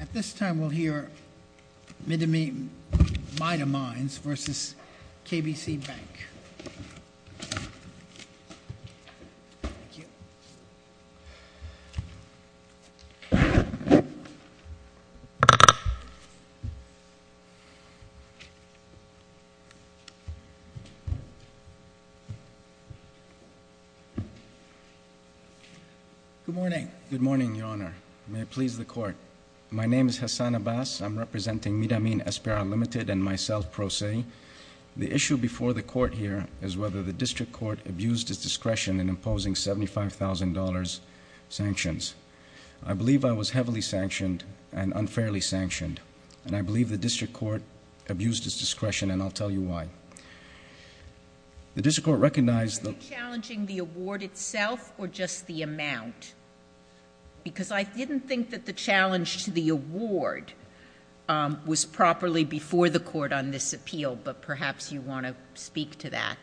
At this time we'll hear Midamines v. KBC Bank. Thank you. Good morning. Good morning, Your Honor. May it please the Court. My name is Hassan Abbas. I'm representing Midamines SPRL Ltd. and myself, Pro Se. The issue before the Court here is whether the District Court abused its discretion in imposing $75,000 sanctions. I believe I was heavily sanctioned and unfairly sanctioned. And I believe the District Court abused its discretion, and I'll tell you why. The District Court recognized... Are you challenging the award itself or just the amount? Because I didn't think that the challenge to the award was properly before the Court on this appeal, but perhaps you want to speak to that.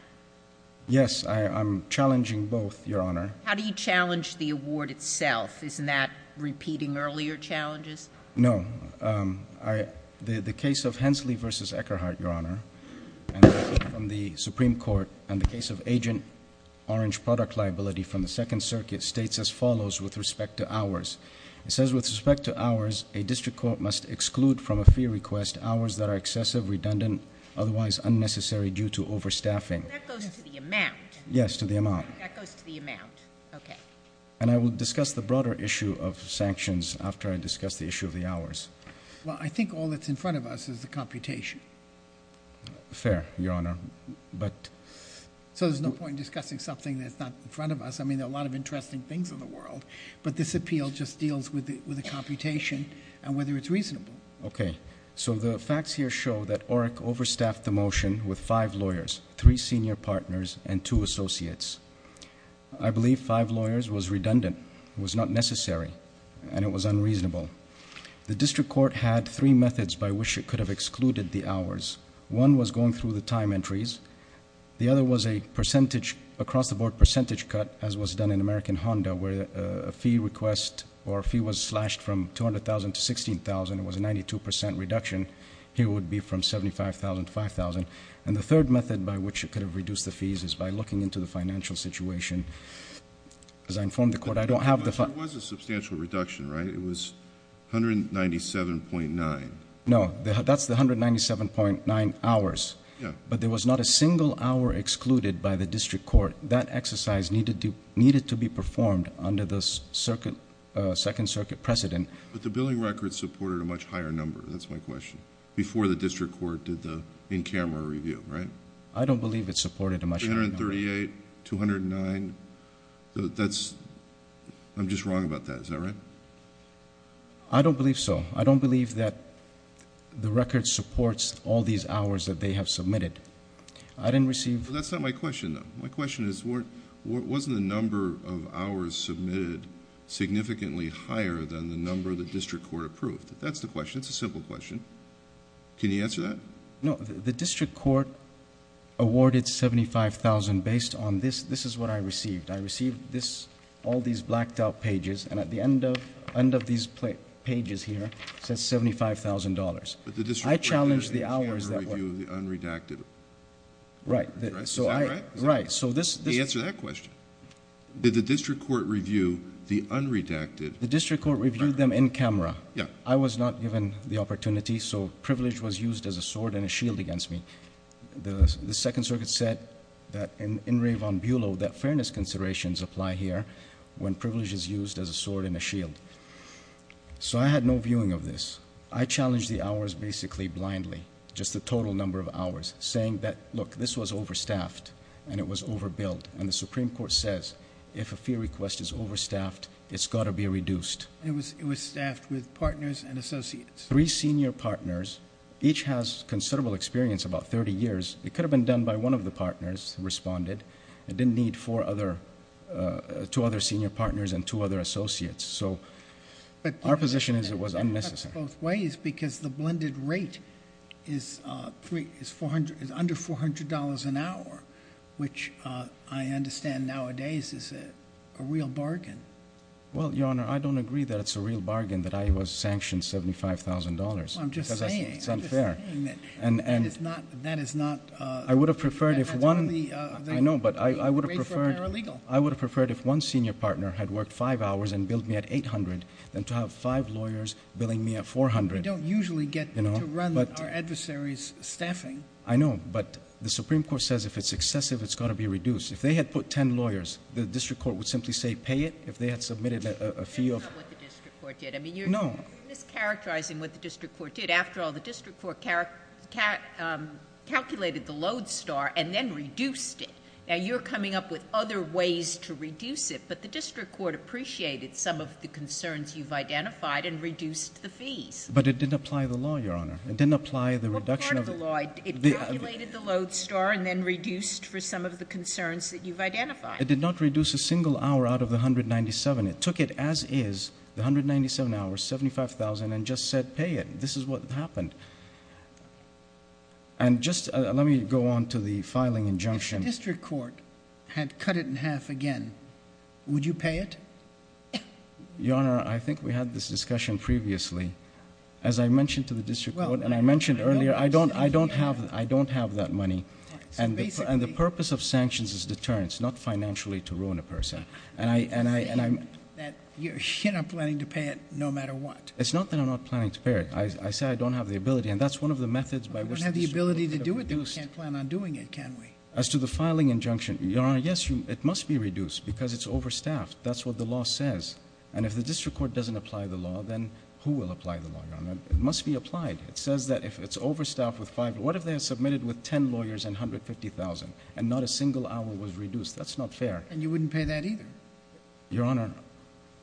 Yes, I'm challenging both, Your Honor. How do you challenge the award itself? Isn't that repeating earlier challenges? No. The case of Hensley v. Eckerhart, Your Honor, from the Supreme Court, and the case of Agent Orange product liability from the Second Circuit states as follows with respect to hours. It says, with respect to hours, a District Court must exclude from a fee request hours that are excessive, redundant, otherwise unnecessary due to overstaffing. That goes to the amount? Yes, to the amount. That goes to the amount. Okay. And I will discuss the broader issue of sanctions after I discuss the issue of the hours. Well, I think all that's in front of us is the computation. Fair, Your Honor, but... So there's no point in discussing something that's not in front of us. I mean, there are a lot of interesting things in the world, but this appeal just deals with the computation and whether it's reasonable. Okay. So the facts here show that ORIC overstaffed the motion with five lawyers, three senior partners, and two associates. I believe five lawyers was redundant, was not necessary, and it was unreasonable. The District Court had three methods by which it could have excluded the hours. One was going through the time entries. The other was a percentage across-the-board percentage cut, as was done in American Honda, where a fee request or a fee was slashed from $200,000 to $16,000. It was a 92% reduction. Here it would be from $75,000 to $5,000. And the third method by which it could have reduced the fees is by looking into the financial situation. As I informed the Court, I don't have the... There was a substantial reduction, right? It was 197.9. No, that's the 197.9 hours. Yeah. But there was not a single hour excluded by the District Court. That exercise needed to be performed under the Second Circuit precedent. But the billing record supported a much higher number, that's my question, before the District Court did the in-camera review, right? I don't believe it supported a much higher number. 138, 209, that's... I'm just wrong about that. Is that right? I don't believe so. I don't believe that the record supports all these hours that they have submitted. I didn't receive... That's not my question, though. My question is, wasn't the number of hours submitted significantly higher than the number the District Court approved? That's the question. It's a simple question. Can you answer that? No. The District Court awarded $75,000 based on this. This is what I received. I received all these blacked-out pages, and at the end of these pages here, it says $75,000. But the District Court did an in-camera review of the unredacted... Right. Is that right? Right. So this... Answer that question. Did the District Court review the unredacted... The District Court reviewed them in-camera. Yeah. I was not given the opportunity, so privilege was used as a sword and a shield against me. The Second Circuit said that in Rayvon Buelow, that fairness considerations apply here when privilege is used as a sword and a shield. So, I had no viewing of this. I challenged the hours basically blindly, just the total number of hours, saying that, look, this was overstaffed and it was overbilled. And the Supreme Court says, if a fee request is overstaffed, it's got to be reduced. It was staffed with partners and associates. Three senior partners. Each has considerable experience, about 30 years. It could have been done by one of the partners who responded. It didn't need two other senior partners and two other associates. So, our position is it was unnecessary. But, Your Honor, it worked both ways because the blended rate is under $400 an hour, which I understand nowadays is a real bargain. Well, Your Honor, I don't agree that it's a real bargain that I was sanctioned $75,000. I'm just saying. It's unfair. That is not. I would have preferred if one. I know, but I would have preferred. I would have preferred if one senior partner had worked five hours and billed me at $800 than to have five lawyers billing me at $400. We don't usually get to run our adversaries' staffing. I know, but the Supreme Court says if it's excessive, it's got to be reduced. If they had put 10 lawyers, the district court would simply say pay it. If they had submitted a fee of. That's not what the district court did. No. You're mischaracterizing what the district court did. After all, the district court calculated the load star and then reduced it. Now, you're coming up with other ways to reduce it, but the district court appreciated some of the concerns you've identified and reduced the fees. But it didn't apply the law, Your Honor. It didn't apply the reduction of. It calculated the load star and then reduced for some of the concerns that you've identified. It did not reduce a single hour out of the $197,000. It took it as is, the $197,000, $75,000, and just said pay it. This is what happened. And just let me go on to the filing injunction. If the district court had cut it in half again, would you pay it? Your Honor, I think we had this discussion previously. As I mentioned to the district court, and I mentioned earlier, I don't have that money. And the purpose of sanctions is deterrence, not financially to ruin a person. You're not planning to pay it no matter what. It's not that I'm not planning to pay it. I say I don't have the ability, and that's one of the methods by which the district court could have reduced. We don't have the ability to do it. We can't plan on doing it, can we? As to the filing injunction, Your Honor, yes, it must be reduced because it's overstaffed. That's what the law says. And if the district court doesn't apply the law, then who will apply the law, Your Honor? It must be applied. It says that if it's overstaffed with five, what if they have submitted with ten lawyers and $150,000, and not a single hour was reduced? That's not fair. And you wouldn't pay that either? Your Honor,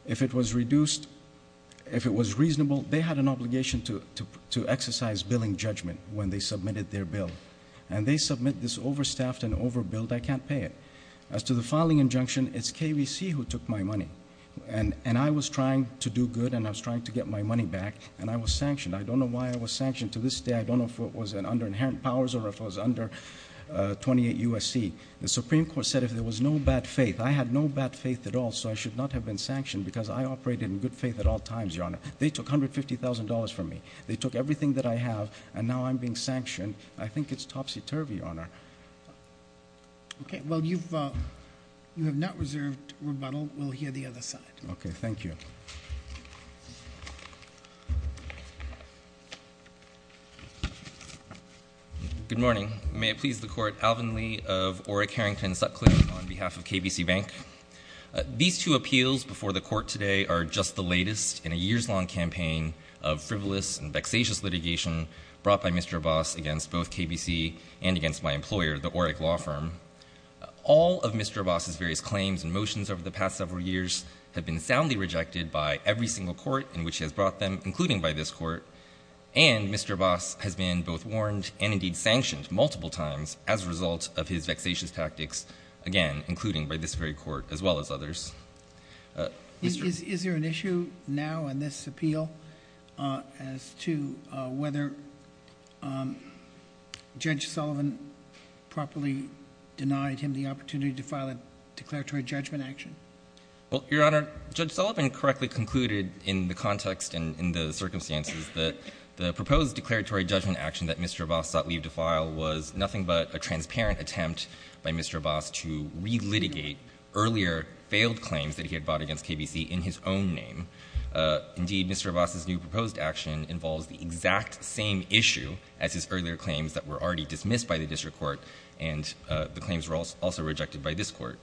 if it was reduced, if it was reasonable, they had an obligation to exercise billing judgment when they submitted their bill. And they submit this overstaffed and overbilled, I can't pay it. As to the filing injunction, it's KVC who took my money. And I was trying to do good, and I was trying to get my money back, and I was sanctioned. I don't know why I was sanctioned. To this day, I don't know if it was under inherent powers or if it was under 28 USC. The Supreme Court said if there was no bad faith. I had no bad faith at all, so I should not have been sanctioned because I operated in good faith at all times, Your Honor. They took $150,000 from me. They took everything that I have, and now I'm being sanctioned. I think it's topsy-turvy, Your Honor. Okay, well, you have not reserved rebuttal. We'll hear the other side. Okay, thank you. Good morning. May it please the Court, Alvin Lee of Orrick-Harrington Sutcliffe on behalf of KVC Bank. These two appeals before the Court today are just the latest in a years-long campaign of frivolous and vexatious litigation brought by Mr. Abbas against both KVC and against my employer, the Orrick Law Firm. All of Mr. Abbas's various claims and motions over the past several years have been soundly rejected by every single court in which he has brought them, including by this court. And Mr. Abbas has been both warned and indeed sanctioned multiple times as a result of his vexatious tactics, again, including by this very court as well as others. Is there an issue now in this appeal as to whether Judge Sullivan properly denied him the opportunity to file a declaratory judgment action? Well, Your Honor, Judge Sullivan correctly concluded in the context and in the circumstances that the proposed declaratory judgment action that Mr. Abbas sought leave to file was nothing but a transparent attempt by Mr. Abbas to relitigate earlier failed claims that he had brought against KVC in his own name. Indeed, Mr. Abbas's new proposed action involves the exact same issue as his earlier claims that were already dismissed by the district court, and the claims were also rejected by this court.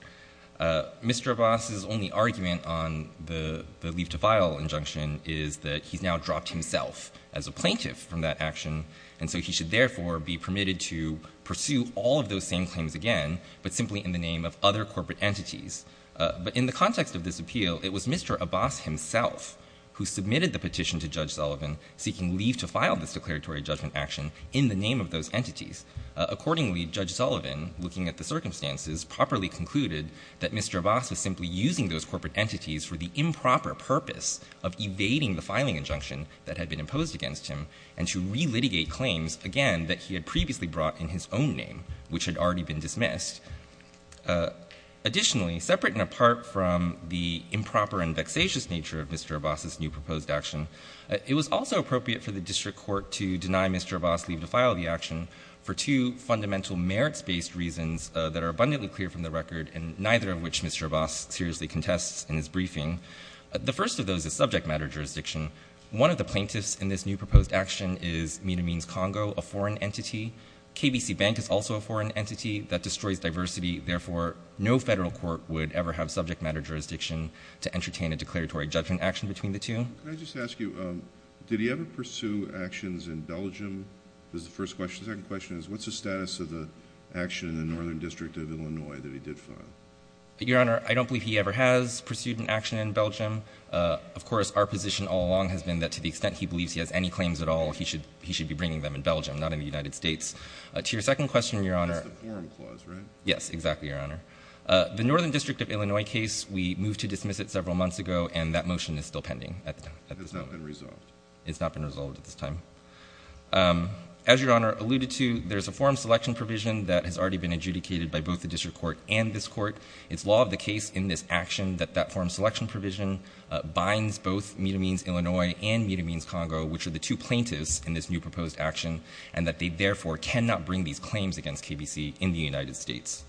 Mr. Abbas's only argument on the leave to file injunction is that he's now dropped himself as a plaintiff from that action, and so he should therefore be permitted to pursue all of those same claims again, but simply in the name of other corporate entities. But in the context of this appeal, it was Mr. Abbas himself who submitted the petition to Judge Sullivan seeking leave to file this declaratory judgment action in the name of those entities. Accordingly, Judge Sullivan, looking at the circumstances, properly concluded that Mr. Abbas was simply using those corporate entities for the improper purpose of evading the filing injunction that had been imposed against him and to relitigate claims, again, that he had previously brought in his own name, which had already been dismissed. Additionally, separate and apart from the improper and vexatious nature of Mr. Abbas's new proposed action, it was also appropriate for the district court to deny Mr. Abbas leave to file the action for two fundamental merits-based reasons that are abundantly clear from the record, and neither of which Mr. Abbas seriously contests in his briefing. The first of those is subject matter jurisdiction. One of the plaintiffs in this new proposed action is, mean to means, Congo, a foreign entity. KBC Bank is also a foreign entity. That destroys diversity. Therefore, no federal court would ever have subject matter jurisdiction to entertain a declaratory judgment action between the two. Can I just ask you, did he ever pursue actions in Belgium is the first question. The second question is, what's the status of the action in the Northern District of Illinois that he did file? Your Honor, I don't believe he ever has pursued an action in Belgium. Of course, our position all along has been that to the extent he believes he has any claims at all, he should be bringing them in Belgium, not in the United States. To your second question, Your Honor. That's the forum clause, right? Yes, exactly, Your Honor. The Northern District of Illinois case, we moved to dismiss it several months ago, and that motion is still pending at this time. It's not been resolved. It's not been resolved at this time. As Your Honor alluded to, there's a forum selection provision that has already been adjudicated by both the district court and this court. It's law of the case in this action that that forum selection provision binds both, mean to means, Illinois, and mean to means, Congo, which are the two plaintiffs in this new proposed action, and that they, therefore, cannot bring these claims against KBC in the United States.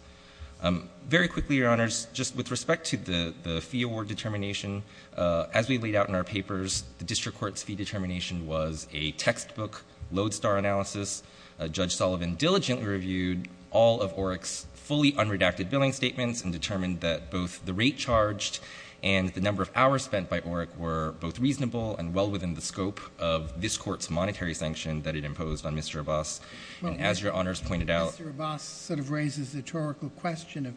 Very quickly, Your Honors, just with respect to the fee award determination, as we laid out in our papers, the district court's fee determination was a textbook, lodestar analysis. Judge Sullivan diligently reviewed all of OREC's fully unredacted billing statements and determined that both the rate charged and the number of hours spent by OREC were both reasonable and well within the scope of this court's monetary sanction that it imposed on Mr. Abbas. And as Your Honors pointed out— Mr. Abbas sort of raises the rhetorical question of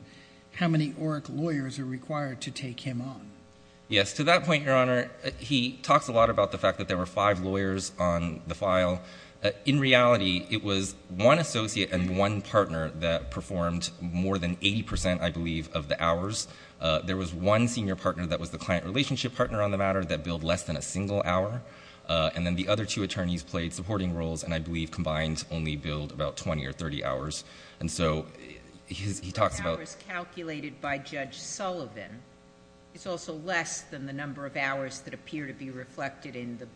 how many OREC lawyers are required to take him on. Yes. To that point, Your Honor, he talks a lot about the fact that there were five lawyers on the file. In reality, it was one associate and one partner that performed more than 80 percent, I believe, of the hours. There was one senior partner that was the client relationship partner on the matter that billed less than a single hour, and then the other two attorneys played supporting roles and, I believe, combined only billed about 20 or 30 hours. And so he talks about— The number of hours calculated by Judge Sullivan is also less than the number of hours that appear to be reflected in the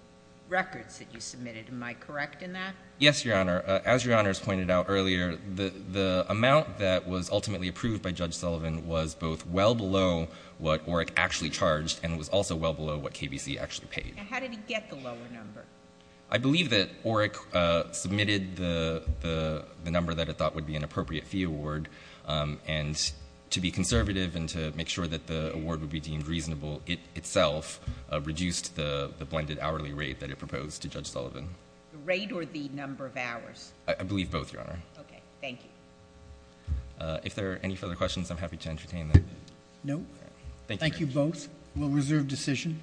records that you submitted. Am I correct in that? Yes, Your Honor. As Your Honors pointed out earlier, the amount that was ultimately approved by Judge Sullivan was both well below what OREC actually charged and was also well below what KBC actually paid. Now, how did he get the lower number? I believe that OREC submitted the number that it thought would be an appropriate fee award, and to be conservative and to make sure that the award would be deemed reasonable itself, reduced the blended hourly rate that it proposed to Judge Sullivan. The rate or the number of hours? I believe both, Your Honor. Okay. Thank you. If there are any further questions, I'm happy to entertain them. No. Thank you. Thank you both. We'll reserve decision.